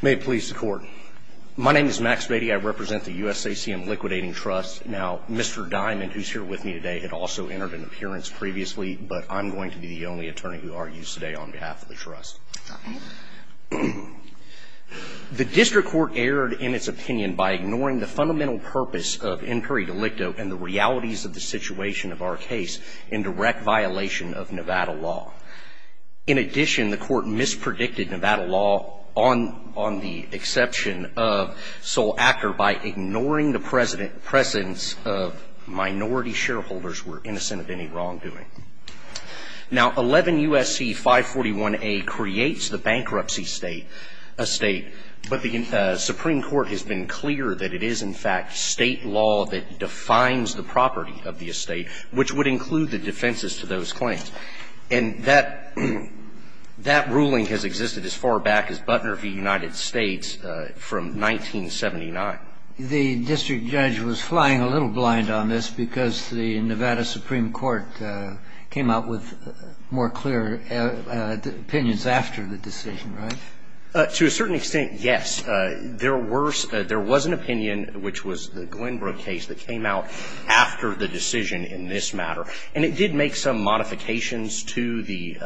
May it please the court. My name is Max Beatty. I represent the USACM Liquidating Trust. Now, Mr. Diamond, who's here with me today, had also entered an appearance previously, but I'm going to be the only attorney who argues today on behalf of the trust. The district court erred in its opinion by ignoring the fundamental purpose of in peri delicto and the realities of the situation of our case in direct violation of Nevada law. In addition, the court mispredicted Nevada law on the exception of Sol Acker by ignoring the presence of minority shareholders who were innocent of any wrongdoing. Now, 11 U.S.C. 541A creates the bankruptcy estate, but the Supreme Court has been clear that it is in fact state law that defines the property of the estate, which would include the defenses to those claims. And that ruling has existed as far back as Butner v. United States from 1979. The district judge was flying a little blind on this because the Nevada Supreme Court came out with more clear opinions after the decision, right? To a certain extent, yes. There was an opinion, which was the Glenbrook case, that came out after the decision in this matter, and it did make some modifications to the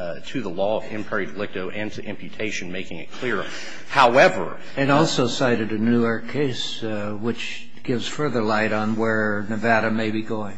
law of in peri delicto and to imputation, making it clearer. However... It also cited a Newark case, which gives further light on where Nevada may be going.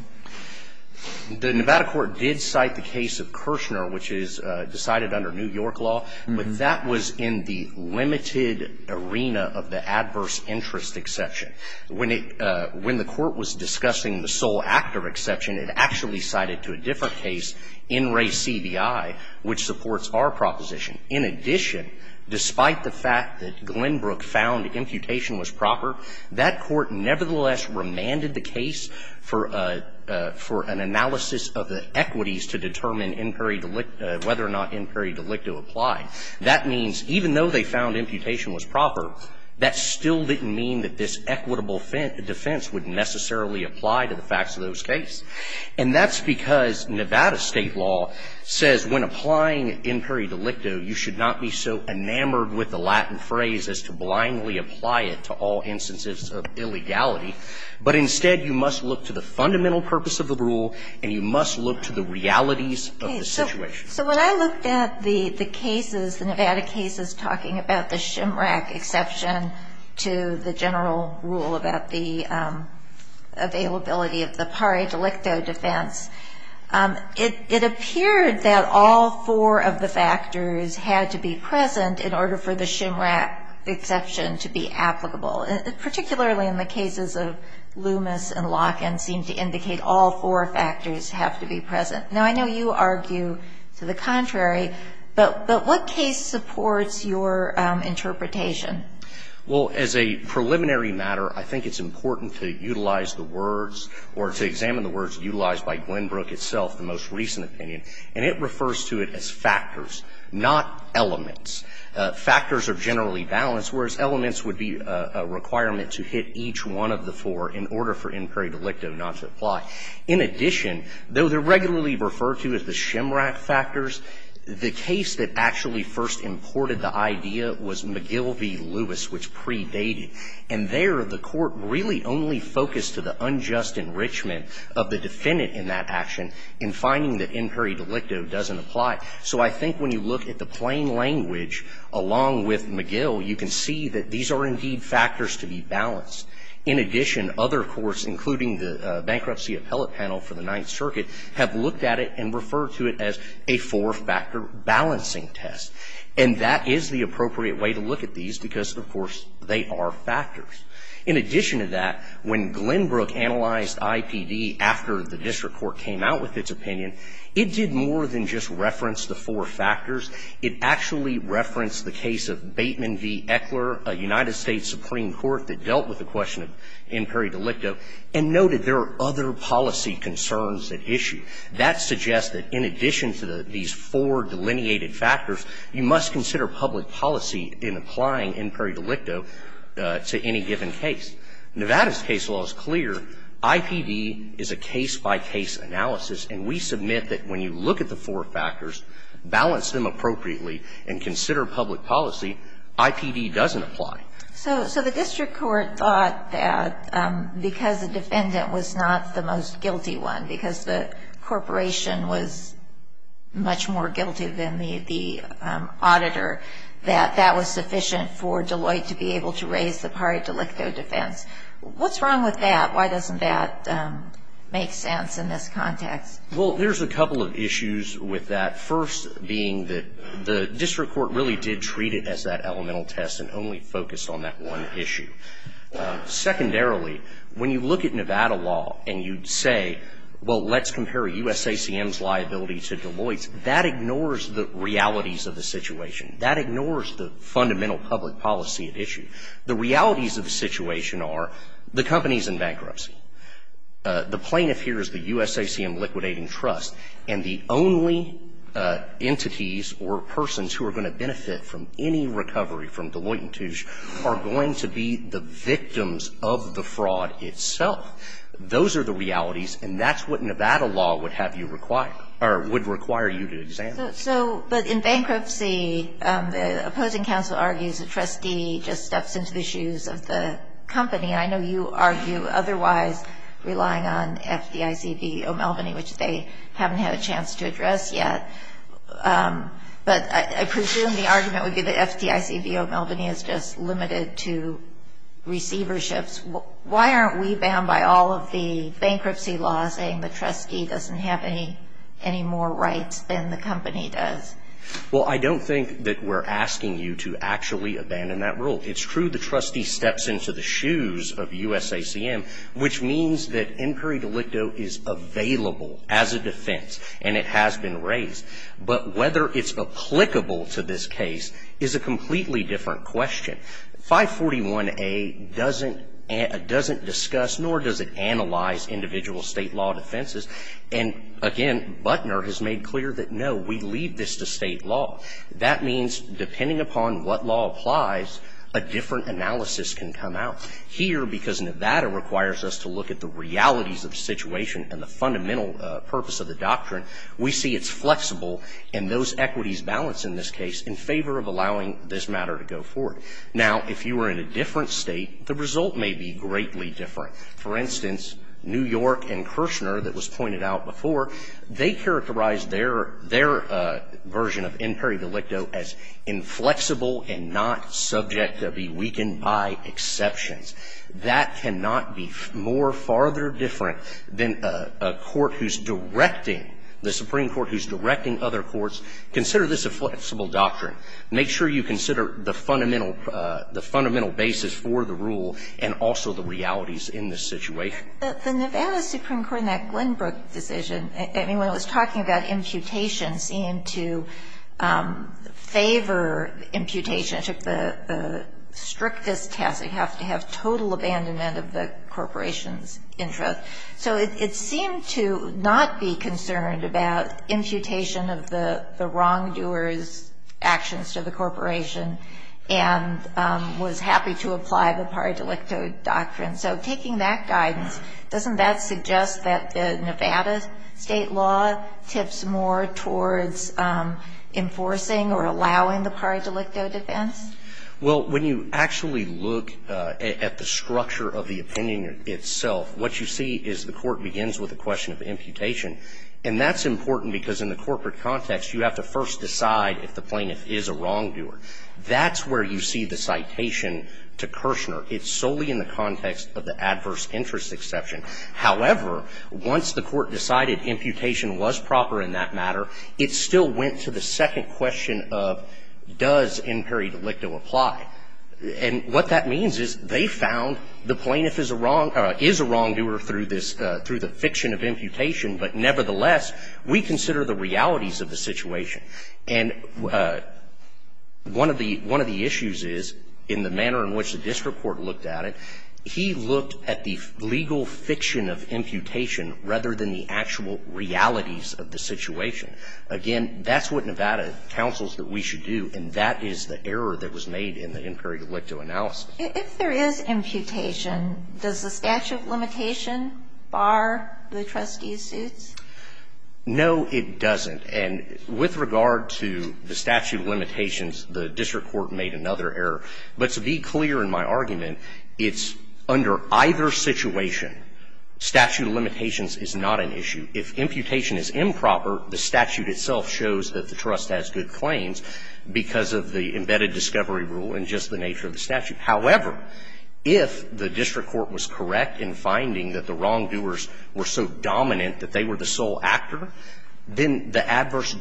The Nevada court did cite the case of Kirshner, which is decided under New York law, but that was in the limited arena of the adverse interest exception. When the court was discussing the sole actor exception, it actually cited to a different case, In Re Cvi, which supports our proposition. In addition, despite the fact that Glenbrook found imputation was proper, that court nevertheless remanded the case for an analysis of the equities to determine in peri delicto, whether or not in peri delicto applied. That means even though they found imputation was proper, that still didn't mean that this equitable defense would necessarily apply to the facts of those cases. And that's because Nevada state law says when applying in peri delicto, you should not be so enamored with the Latin phrase as to blindly apply it to all instances of illegality. But instead, you must look to the fundamental purpose of the rule, and you must look to the realities of the situation. So when I looked at the cases, the Nevada cases talking about the SHMRAC exception to the general rule about the availability of the peri delicto defense, it appeared that all four of the factors had to be present in order for the SHMRAC exception to be applicable, particularly in the cases of Loomis and Locken seemed to indicate all four factors have to be present. Now, I know you argue to the contrary, but what case supports your interpretation? Well, as a preliminary matter, I think it's important to utilize the words or to examine the words utilized by Glenbrook itself, the most recent opinion, and it refers to it as factors, not elements. Factors are generally balanced, whereas elements would be a requirement to hit each one of the four in order for in peri delicto not to apply. In addition, though they're regularly referred to as the SHMRAC factors, the case that actually first imported the idea was McGill v. Lewis, which predated. And there, the Court really only focused to the unjust enrichment of the defendant in that action in finding that in peri delicto doesn't apply. So I think when you look at the plain language along with McGill, you can see that these are indeed factors to be balanced. In addition, other courts, including the Bankruptcy Appellate Panel for the Ninth Circuit, have looked at it and referred to it as a four-factor balancing test. And that is the appropriate way to look at these because, of course, they are factors. In addition to that, when Glenbrook analyzed IPD after the district court came out with its opinion, it did more than just reference the four factors. It actually referenced the case of Bateman v. Eckler, a United States Supreme Court that dealt with the question of in peri delicto, and noted there are other policy concerns at issue. That suggests that in addition to these four delineated factors, you must consider public policy in applying in peri delicto to any given case. Nevada's case law is clear. IPD is a case-by-case analysis. And we submit that when you look at the four factors, balance them appropriately and consider public policy, IPD doesn't apply. So the district court thought that because the defendant was not the most guilty one, because the corporation was much more guilty than the auditor, that that was sufficient for Deloitte to be able to raise the peri delicto defense. What's wrong with that? Why doesn't that make sense in this context? Well, there's a couple of issues with that, first being that the district court really did treat it as that elemental test and only focused on that one issue. Secondarily, when you look at Nevada law and you'd say, well, let's compare USACM's liability to Deloitte's, that ignores the realities of the situation. That ignores the fundamental public policy at issue. The realities of the situation are the company's in bankruptcy. The plaintiff here is the USACM Liquidating Trust. And the only entities or persons who are going to benefit from any recovery from Deloitte and Touche are going to be the victims of the fraud itself. Those are the realities, and that's what Nevada law would have you require or would require you to examine. So, but in bankruptcy, the opposing counsel argues the trustee just steps into the shoes of the company. I know you argue otherwise, relying on FDIC v. O'Melveny, which they haven't had a chance to address yet. But I presume the argument would be that FDIC v. O'Melveny is just limited to receiverships. Why aren't we bound by all of the bankruptcy laws saying the trustee doesn't have any more rights than the company does? Well, I don't think that we're asking you to actually abandon that rule. It's true the trustee steps into the shoes of USACM, which means that inquiry delicto is available as a defense, and it has been raised. But whether it's applicable to this case is a completely different question. 541A doesn't discuss nor does it analyze individual state law defenses. And, again, Butner has made clear that, no, we leave this to state law. That means, depending upon what law applies, a different analysis can come out. Here, because Nevada requires us to look at the realities of the situation and the fundamental purpose of the doctrine, we see it's flexible, and those equities balance in this case in favor of allowing this matter to go forward. Now, if you were in a different state, the result may be greatly different. For instance, New York and Kirshner, that was pointed out before, they characterize their version of inquiry delicto as inflexible and not subject to be weakened by exceptions. That cannot be more, farther different than a court who's directing, the Supreme Court who's directing other courts, consider this a flexible doctrine. Make sure you consider the fundamental basis for the rule and also the realities in this situation. The Nevada Supreme Court in that Glenbrook decision, I mean, when it was talking about imputation, seemed to favor imputation. It took the strictest test. They have to have total abandonment of the corporation's interest. So it seemed to not be concerned about imputation of the wrongdoer's actions to the corporation and was happy to apply the par delicto doctrine. So taking that guidance, doesn't that suggest that the Nevada state law tips more towards enforcing or allowing the par delicto defense? Well, when you actually look at the structure of the opinion itself, what you see is the court begins with a question of imputation. And that's important because in the corporate context, you have to first decide if the plaintiff is a wrongdoer. That's where you see the citation to Kirshner. It's solely in the context of the adverse interest exception. However, once the court decided imputation was proper in that matter, it still went to the second question of does in par delicto apply. And what that means is they found the plaintiff is a wrongdoer through the fiction of imputation, but nevertheless, we consider the realities of the situation. And one of the issues is in the manner in which the district court looked at it, he looked at the legal fiction of imputation rather than the actual realities of the situation. Again, that's what Nevada counsels that we should do, and that is the error that was made in the in par delicto analysis. If there is imputation, does the statute of limitation bar the trustee's suits? No, it doesn't. And with regard to the statute of limitations, the district court made another error. But to be clear in my argument, it's under either situation, statute of limitations is not an issue. If imputation is improper, the statute itself shows that the trust has good claims because of the embedded discovery rule and just the nature of the statute. However, if the district court was correct in finding that the wrongdoers were so dominant that they were the sole actor, then the adverse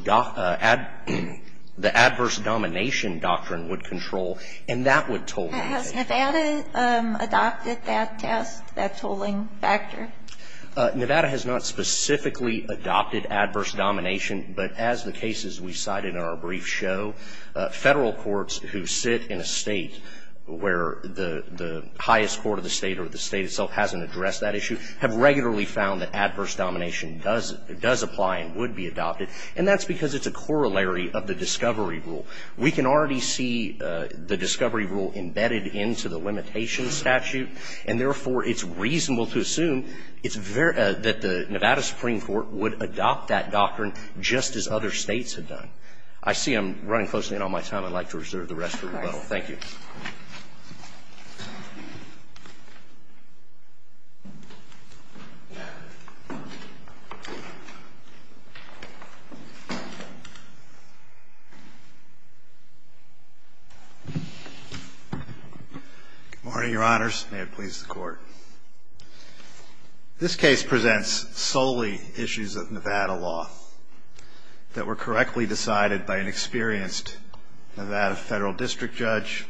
domination doctrine would control, and that would toll the case. Has Nevada adopted that test, that tolling factor? Nevada has not specifically adopted adverse domination. But as the cases we cited in our brief show, Federal courts who sit in a State where the highest court of the State or the State itself hasn't addressed that issue have regularly found that adverse domination does apply and would be adopted, and that's because it's a corollary of the discovery rule. We can already see the discovery rule embedded into the limitation statute, and therefore, it's reasonable to assume it's very – that the Nevada Supreme Court would adopt that doctrine just as other States have done. I see I'm running close to the end of my time. I'd like to reserve the rest for rebuttal. Thank you. Good morning, Your Honors. May it please the Court. This case presents solely issues of Nevada law that were correctly decided by an experienced Nevada Federal District Judge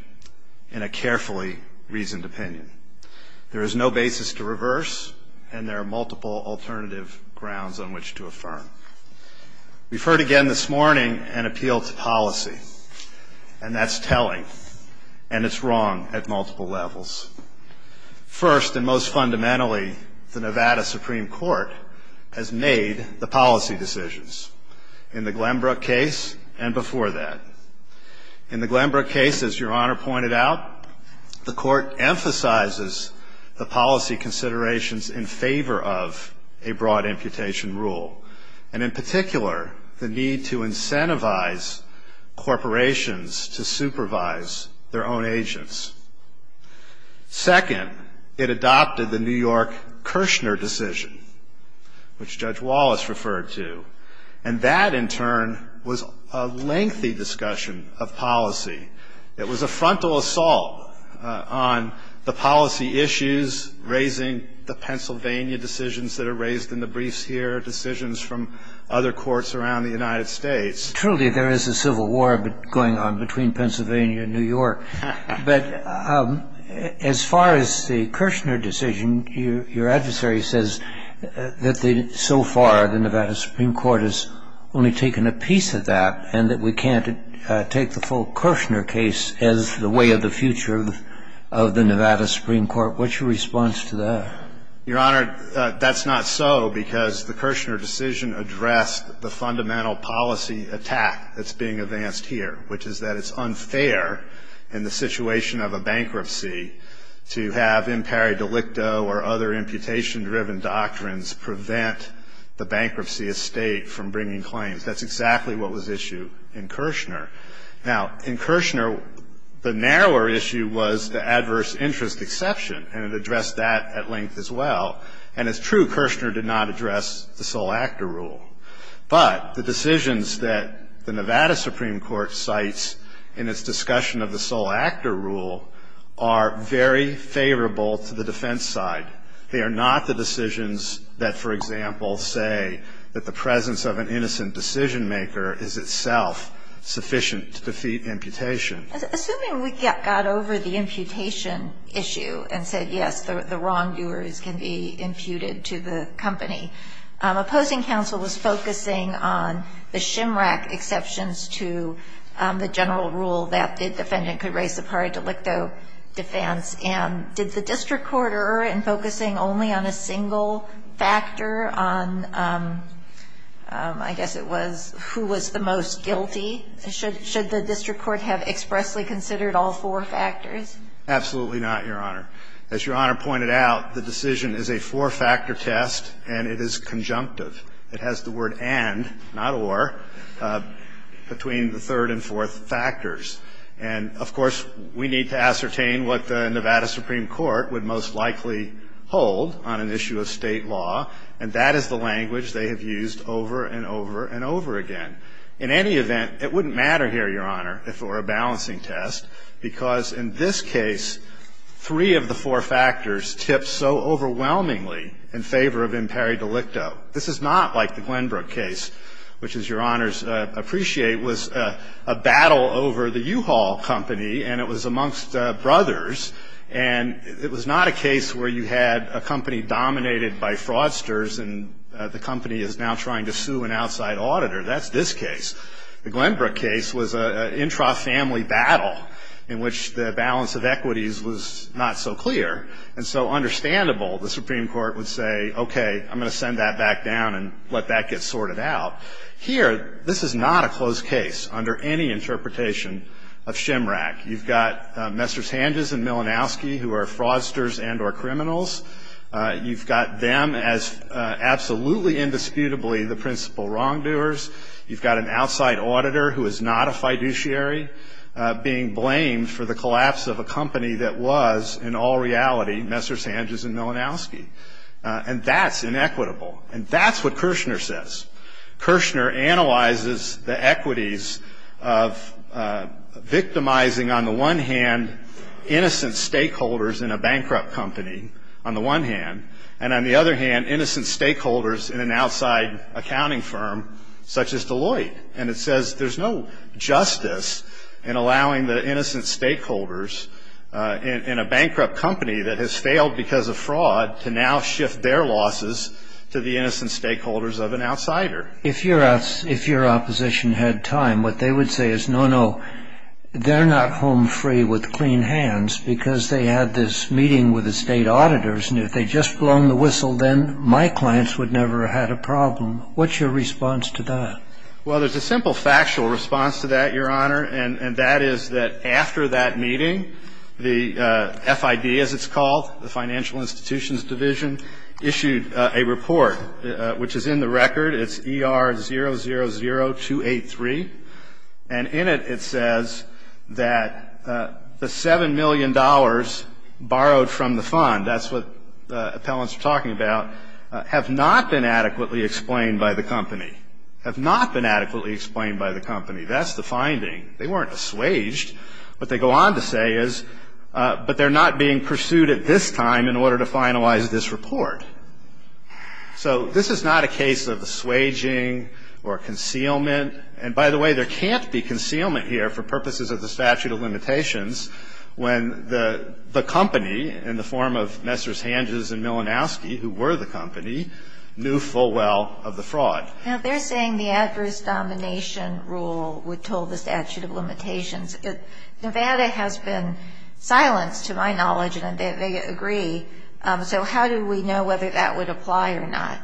in a carefully reasoned opinion. There is no basis to reverse, and there are multiple alternative grounds on which to affirm. We've heard again this morning an appeal to policy, and that's telling, and it's wrong at multiple levels. First, and most fundamentally, the Nevada Supreme Court has made the policy decisions in the Glenbrook case and before that. In the Glenbrook case, as Your Honor pointed out, the Court emphasizes the policy considerations in favor of a broad imputation rule, and in particular, the need to incentivize corporations to supervise their own agents. Second, it adopted the New York Kirshner decision, which Judge Wallace referred to, and that, in turn, was a lengthy discussion of policy. It was a frontal assault on the policy issues, raising the Pennsylvania decisions that are raised in the briefs here, decisions from other courts around the United States. Truly, there is a civil war going on between Pennsylvania and New York. But as far as the Kirshner decision, your adversary says that so far the Nevada Supreme Court has only taken a piece of that, and that we can't take the full Kirshner case as the way of the future of the Nevada Supreme Court. What's your response to that? Your Honor, that's not so, because the Kirshner decision addressed the fundamental policy attack that's being advanced here, which is that it's unfair in the situation of a bankruptcy to have impari delicto or other imputation-driven doctrines prevent the bankruptcy estate from bringing claims. That's exactly what was issued in Kirshner. Now, in Kirshner, the narrower issue was the adverse interest exception, and it addressed that at length as well. And it's true Kirshner did not address the sole actor rule. But the decisions that the Nevada Supreme Court cites in its discussion of the sole actor rule are very favorable to the defense side. They are not the decisions that, for example, say that the presence of an innocent decision-maker is itself sufficient to defeat imputation. Assuming we got over the imputation issue and said, yes, the wrongdoers can be imputed to the company, opposing counsel was focusing on the SHMRAC exceptions to the general rule that the defendant could raise impari delicto defense. And did the district court err in focusing only on a single factor on, I guess it was, who was the most guilty? Should the district court have expressly considered all four factors? Absolutely not, Your Honor. As Your Honor pointed out, the decision is a four-factor test, and it is conjunctive. It has the word and, not or, between the third and fourth factors. And, of course, we need to ascertain what the Nevada Supreme Court would most likely hold on an issue of State law, and that is the language they have used over and over and over again. In any event, it wouldn't matter here, Your Honor, if it were a balancing test, because in this case, three of the four factors tip so overwhelmingly in favor of impari delicto. This is not like the Glenbrook case, which, as Your Honors appreciate, was a battle over the U-Haul company, and it was amongst brothers. And it was not a case where you had a company dominated by fraudsters, and the company is now trying to sue an outside auditor. That's this case. The Glenbrook case was an intra-family battle in which the balance of equities was not so clear. And so, understandable, the Supreme Court would say, okay, I'm going to send that back down and let that get sorted out. Here, this is not a closed case under any interpretation of SHMRAC. You've got Messrs. Hanges and Milanowski, who are fraudsters and or criminals. You've got them as absolutely indisputably the principal wrongdoers. You've got an outside auditor who is not a fiduciary being blamed for the collapse of a company that was, in all reality, Messrs. Hanges and Milanowski. And that's inequitable. And that's what Kirshner says. Kirshner analyzes the equities of victimizing, on the one hand, innocent stakeholders in a bankrupt company, on the one hand, and on the other hand, innocent stakeholders in an outside accounting firm such as Deloitte. And it says there's no justice in allowing the innocent stakeholders in a bankrupt company that has failed because of fraud to now shift their losses to the innocent stakeholders of an outsider. If your opposition had time, what they would say is, no, no, they're not home free with clean hands because they had this meeting with the state auditors. And if they'd just blown the whistle, then my clients would never have had a problem. What's your response to that? Well, there's a simple factual response to that, Your Honor, and that is that after that meeting, the FID, as it's called, the Financial Institutions Division, issued a report, which is in the record. It's ER 000283. And in it, it says that the $7 million borrowed from the fund, that's what the appellants are talking about, have not been adequately explained by the company. Have not been adequately explained by the company. That's the finding. They weren't assuaged. What they go on to say is, but they're not being pursued at this time in order to finalize this report. So this is not a case of assuaging or concealment. And, by the way, there can't be concealment here for purposes of the statute of limitations when the company, in the form of Messrs. Hanges and Milanowski, who were the company, knew full well of the fraud. Now, they're saying the adverse domination rule would toll the statute of limitations. Nevada has been silenced, to my knowledge, and they agree. So how do we know whether that would apply or not?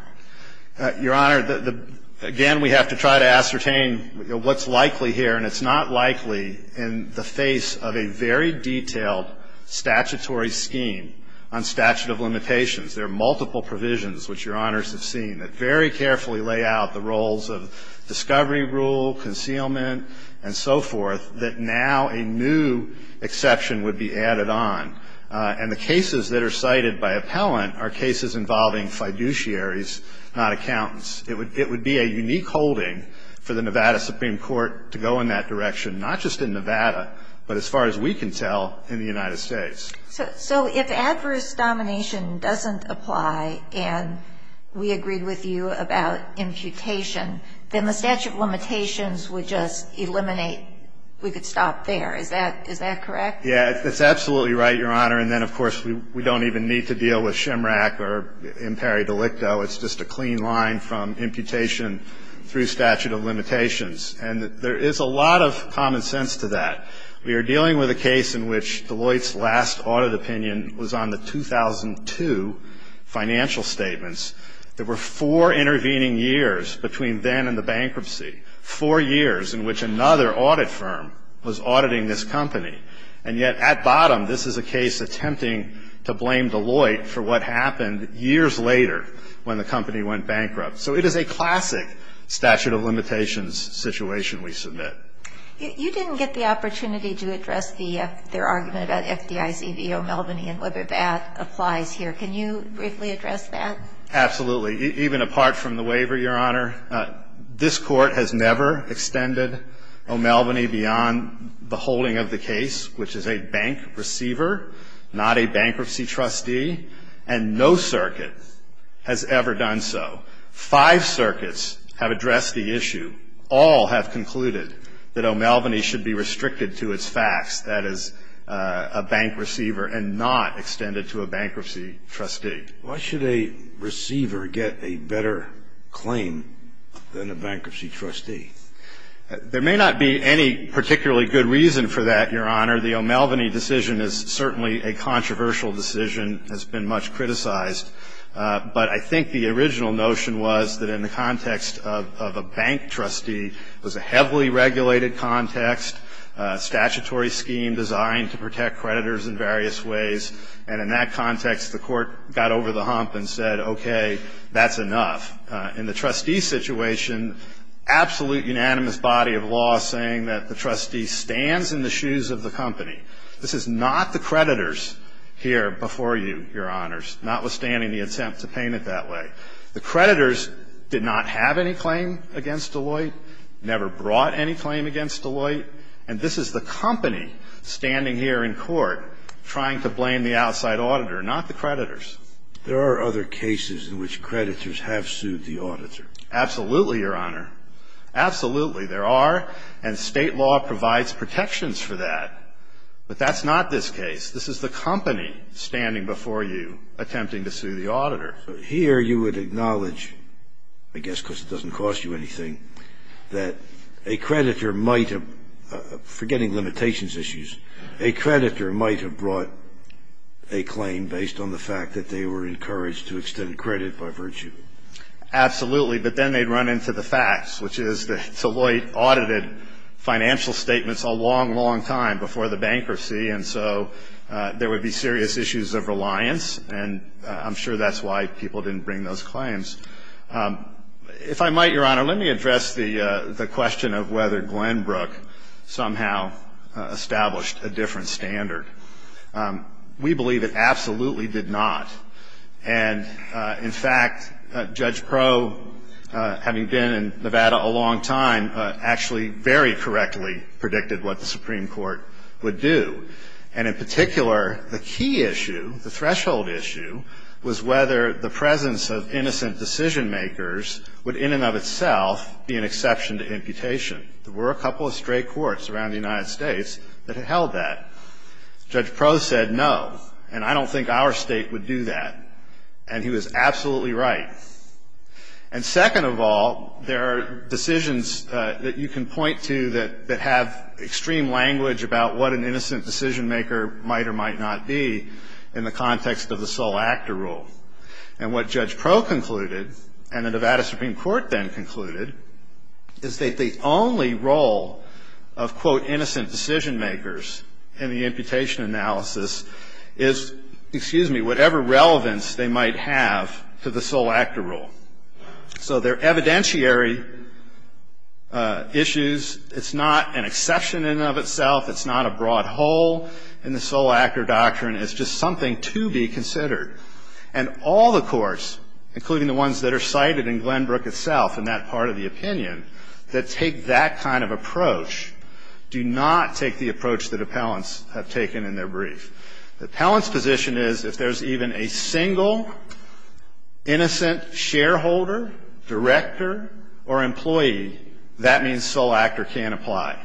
Your Honor, again, we have to try to ascertain what's likely here, and it's not likely in the face of a very detailed statutory scheme on statute of limitations. There are multiple provisions, which Your Honors have seen, that very carefully lay out the roles of discovery rule, concealment, and so forth, that now a new exception would be added on. And the cases that are cited by appellant are cases involving fiduciaries, not accountants. It would be a unique holding for the Nevada Supreme Court to go in that direction, not just in Nevada, but as far as we can tell, in the United States. So if adverse domination doesn't apply, and we agreed with you about imputation, then the statute of limitations would just eliminate. We could stop there. Is that correct? Yeah, that's absolutely right, Your Honor. And then, of course, we don't even need to deal with SHMRAC or IMPERI DELICTO. It's just a clean line from imputation through statute of limitations. And there is a lot of common sense to that. We are dealing with a case in which Deloitte's last audit opinion was on the 2002 financial statements. There were four intervening years between then and the bankruptcy, four years in which another audit firm was auditing this company. And yet, at bottom, this is a case attempting to blame Deloitte for what happened years later when the company went bankrupt. So it is a classic statute of limitations situation we submit. You didn't get the opportunity to address their argument about FDIC v. O'Melveny and whether that applies here. Can you briefly address that? Absolutely. Even apart from the waiver, Your Honor, this Court has never extended O'Melveny beyond the holding of the case, which is a bank receiver, not a bankruptcy trustee. And no circuit has ever done so. Five circuits have addressed the issue. All have concluded that O'Melveny should be restricted to its facts, that is, a bank receiver, and not extended to a bankruptcy trustee. Why should a receiver get a better claim than a bankruptcy trustee? There may not be any particularly good reason for that, Your Honor. The O'Melveny decision is certainly a controversial decision, has been much criticized. But I think the original notion was that in the context of a bank trustee was a heavily regulated context, statutory scheme designed to protect creditors in various ways. And in that context, the Court got over the hump and said, okay, that's enough. In the trustee situation, absolute unanimous body of law saying that the trustee stands in the shoes of the company. This is not the creditors here before you, Your Honors, notwithstanding the attempt to paint it that way. The creditors did not have any claim against Deloitte, never brought any claim against Deloitte, and this is the company standing here in court trying to blame the outside auditor, not the creditors. There are other cases in which creditors have sued the auditor. Absolutely, Your Honor. Absolutely there are, and State law provides protections for that. But that's not this case. This is the company standing before you attempting to sue the auditor. Here you would acknowledge, I guess because it doesn't cost you anything, that a creditor might have, forgetting limitations issues, a creditor might have brought a claim based on the fact that they were encouraged to extend credit by virtue. Absolutely, but then they'd run into the facts, which is that Deloitte audited financial statements a long, long time before the bankruptcy, and so there would be serious issues of reliance, and I'm sure that's why people didn't bring those claims. If I might, Your Honor, let me address the question of whether Glenbrook somehow established a different standard. We believe it absolutely did not. And, in fact, Judge Pro, having been in Nevada a long time, actually very correctly predicted what the Supreme Court would do. And, in particular, the key issue, the threshold issue, was whether the presence of innocent decision-makers would, in and of itself, be an exception to imputation. There were a couple of stray courts around the United States that held that. Judge Pro said no, and I don't think our State would do that. And he was absolutely right. And, second of all, there are decisions that you can point to that have extreme language about what an innocent decision-maker might or might not be in the context of the sole actor rule. And what Judge Pro concluded, and the Nevada Supreme Court then concluded, is that the only role of, quote, So they're evidentiary issues. It's not an exception in and of itself. It's not a broad whole in the sole actor doctrine. It's just something to be considered. And all the courts, including the ones that are cited in Glenbrook itself in that part of the opinion, that take that kind of approach, do not take the approach that appellants have taken in their brief. The appellant's position is if there's even a single innocent shareholder, director, or employee, that means sole actor can't apply.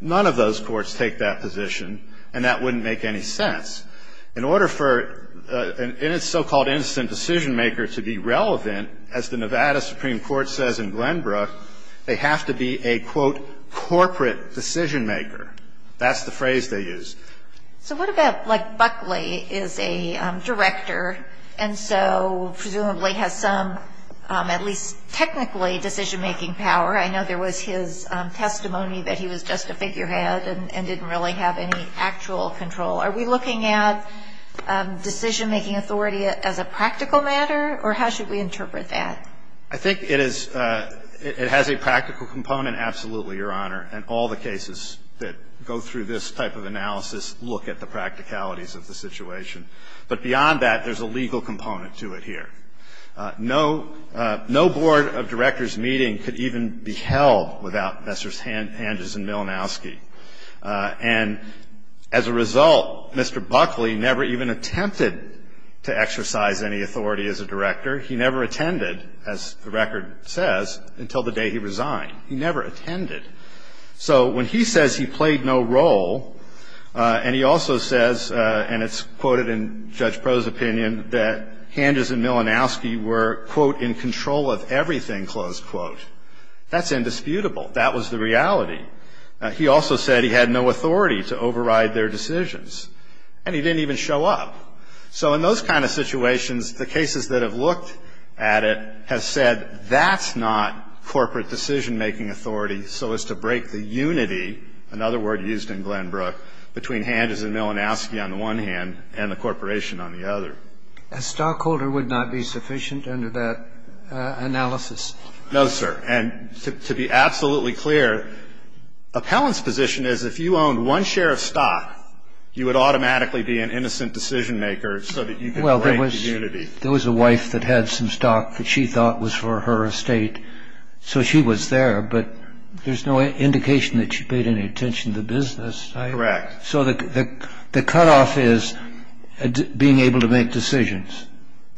None of those courts take that position, and that wouldn't make any sense. In order for a so-called innocent decision-maker to be relevant, as the Nevada Supreme Court says in Glenbrook, they have to be a, quote, corporate decision-maker. That's the phrase they use. So what about, like, Buckley is a director, and so presumably has some, at least technically, decision-making power. I know there was his testimony that he was just a figurehead and didn't really have any actual control. Are we looking at decision-making authority as a practical matter, or how should we interpret that? I think it is – it has a practical component, absolutely, Your Honor. And all the cases that go through this type of analysis look at the practicalities of the situation. But beyond that, there's a legal component to it here. No – no board of directors meeting could even be held without Messrs. Hanges and Milinowski. And as a result, Mr. Buckley never even attempted to exercise any authority as a director. He never attended, as the record says, until the day he resigned. He never attended. So when he says he played no role, and he also says, and it's quoted in Judge Pro's opinion, that Hanges and Milinowski were, quote, in control of everything, close quote, that's indisputable. That was the reality. He also said he had no authority to override their decisions. And he didn't even show up. So in those kind of situations, the cases that have looked at it have said that's not corporate decision-making authority so as to break the unity, another word used in Glenbrook, between Hanges and Milinowski on the one hand and the corporation on the other. A stockholder would not be sufficient under that analysis. No, sir. And to be absolutely clear, appellant's position is if you owned one share of stock, you would automatically be an innocent decision-maker so that you could break the unity. Well, there was a wife that had some stock that she thought was for her estate, so she was there, but there's no indication that she paid any attention to the business side. Correct. So the cutoff is being able to make decisions.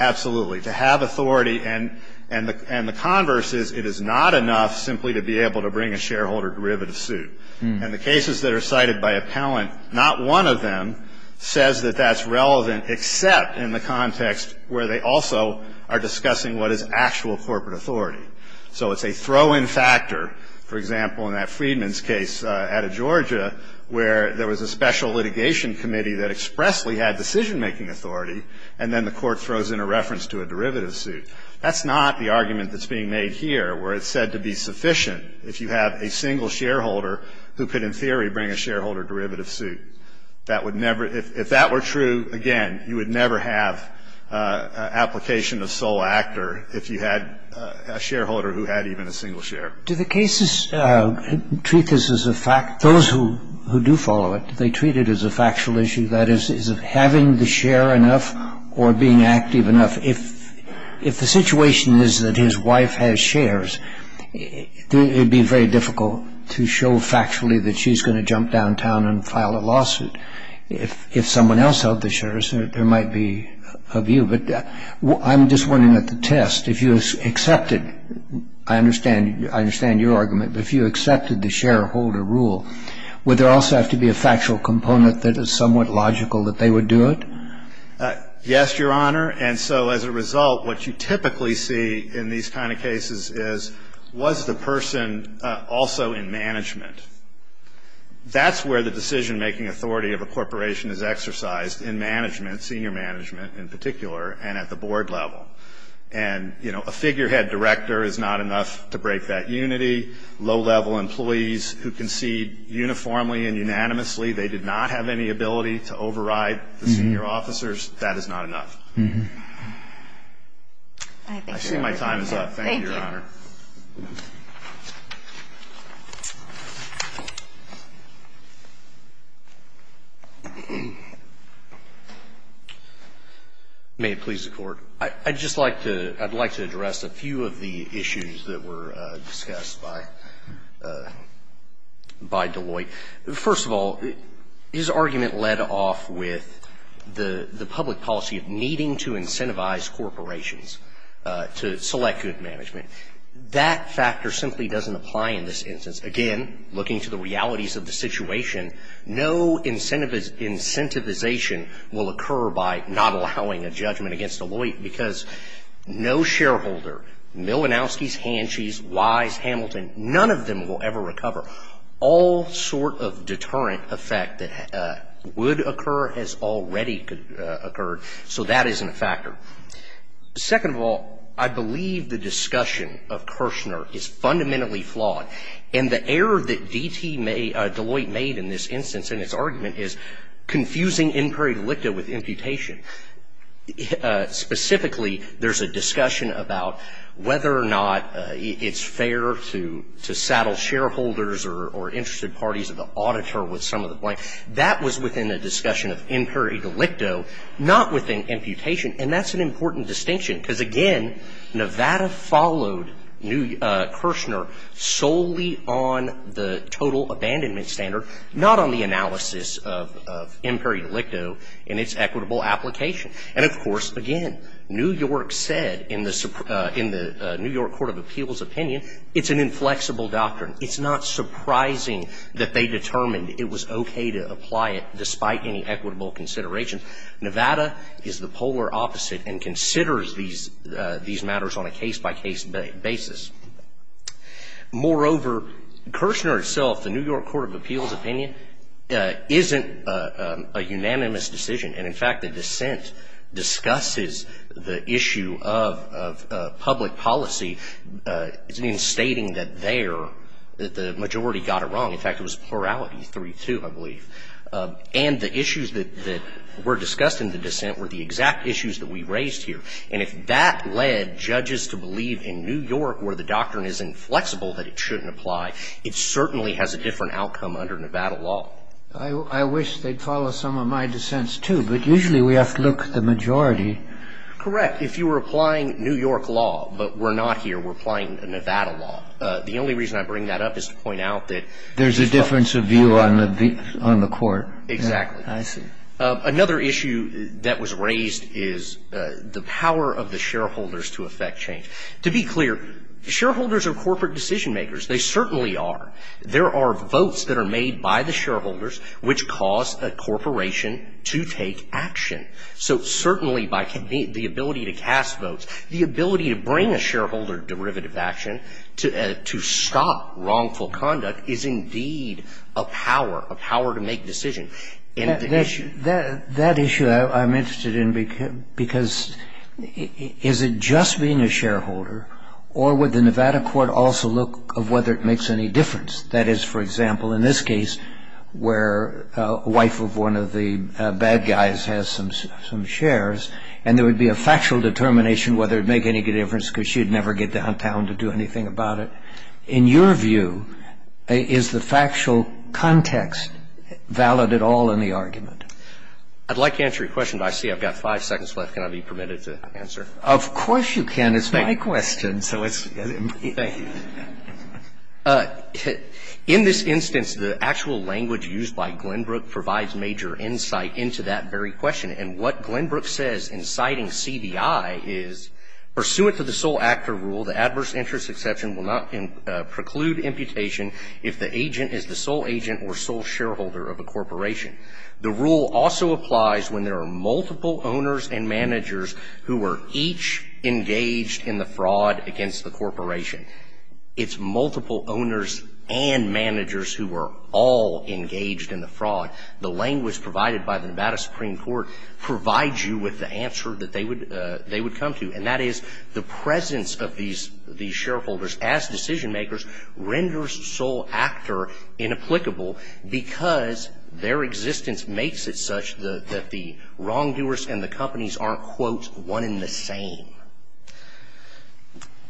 Absolutely. To have authority, and the converse is it is not enough simply to be able to bring a shareholder derivative suit. And the cases that are cited by appellant, not one of them says that that's relevant except in the context where they also are discussing what is actual corporate authority. So it's a throw-in factor, for example, in that Freedman's case out of Georgia where there was a special litigation committee that expressly had decision-making authority and then the court throws in a reference to a derivative suit. That's not the argument that's being made here where it's said to be sufficient if you have a single shareholder who could in theory bring a shareholder derivative suit. If that were true, again, you would never have application of sole actor if you had a shareholder who had even a single share. Do the cases treat this as a fact? Those who do follow it, do they treat it as a factual issue? That is, is having the share enough or being active enough? If the situation is that his wife has shares, it would be very difficult to show factually that she's going to jump downtown and file a lawsuit. If someone else held the shares, there might be a view. But I'm just wondering at the test, if you accepted, I understand your argument, but if you accepted the shareholder rule, would there also have to be a factual component that is somewhat logical that they would do it? Yes, Your Honor. And so as a result, what you typically see in these kind of cases is, was the person also in management? That's where the decision-making authority of a corporation is exercised in management, senior management in particular, and at the board level. And, you know, a figurehead director is not enough to break that unity. Low-level employees who concede uniformly and unanimously, they did not have any ability to override the senior officers, that is not enough. I think my time is up. Thank you, Your Honor. Thank you. May it please the Court. I'd just like to address a few of the issues that were discussed by Deloitte. First of all, his argument led off with the public policy of needing to incentivize corporations to select good management. That factor simply doesn't apply in this instance. Again, looking to the realities of the situation, no incentivization will occur by not allowing a judgment against Deloitte, because no shareholder, Milinowski's, Hanshi's, Wise, Hamilton, none of them will ever recover. All sort of deterrent effect that would occur has already occurred, so that isn't a factor. Second of all, I believe the discussion of Kirshner is fundamentally flawed, and the error that D.T. Deloitte made in this instance in his argument is confusing in prairie delicta with imputation. Specifically, there's a discussion about whether or not it's fair to saddle shareholders or interested parties of the auditor with some of the blame. That was within the discussion of in prairie delicto, not within imputation, and that's an important distinction, because, again, Nevada followed Kirshner solely on the total abandonment standard, not on the analysis of in prairie delicto and its equitable application. And, of course, again, New York said in the New York Court of Appeals opinion, it's an inflexible doctrine. It's not surprising that they determined it was okay to apply it despite any equitable consideration. Nevada is the polar opposite and considers these matters on a case-by-case basis. Moreover, Kirshner himself, the New York Court of Appeals opinion, isn't a unanimous decision. And, in fact, the dissent discusses the issue of public policy in stating that there the majority got it wrong. In fact, it was plurality three-two, I believe. And the issues that were discussed in the dissent were the exact issues that we raised here. And if that led judges to believe in New York, where the doctrine is inflexible, that it shouldn't apply, it certainly has a different outcome under Nevada law. I wish they'd follow some of my dissents, too, but usually we have to look at the majority. Correct. If you were applying New York law, but we're not here, we're applying Nevada law, the only reason I bring that up is to point out that there's a difference of view on the court. Exactly. I see. Another issue that was raised is the power of the shareholders to effect change. To be clear, shareholders are corporate decision-makers. They certainly are. There are votes that are made by the shareholders which cause a corporation to take action. So certainly by the ability to cast votes, the ability to bring a shareholder derivative action to stop wrongful conduct is indeed a power, a power to make decisions. That issue I'm interested in, because is it just being a shareholder, or would the Nevada court also look of whether it makes any difference? That is, for example, in this case, where a wife of one of the bad guys has some shares, and there would be a factual determination whether it would make any difference because she'd never get downtown to do anything about it. In your view, is the factual context valid at all in the argument? I'd like to answer your question, but I see I've got five seconds left. Can I be permitted to answer? Of course you can. It's my question. Thank you. In this instance, the actual language used by Glenbrook provides major insight into that very question. And what Glenbrook says in citing CBI is, Pursuant to the sole actor rule, the adverse interest exception will not preclude imputation if the agent is the sole agent or sole shareholder of a corporation. The rule also applies when there are multiple owners and managers who are each engaged in the fraud against the corporation. It's multiple owners and managers who are all engaged in the fraud. The language provided by the Nevada Supreme Court provides you with the answer that they would come to, and that is the presence of these shareholders as decision makers renders sole actor inapplicable because their existence makes it such that the wrongdoers and the companies aren't, quote, one in the same.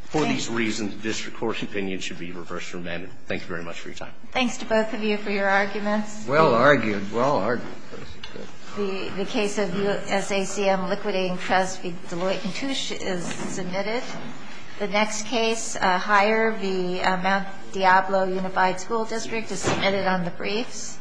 For these reasons, this Court's opinion should be reversed for amendment. Thank you very much for your time. Thanks to both of you for your arguments. Well argued. Well argued. The case of the SACM Liquidating Trust v. Deloitte & Touche is submitted. The next case, Higher v. Mount Diablo Unified School District, is submitted on the briefs.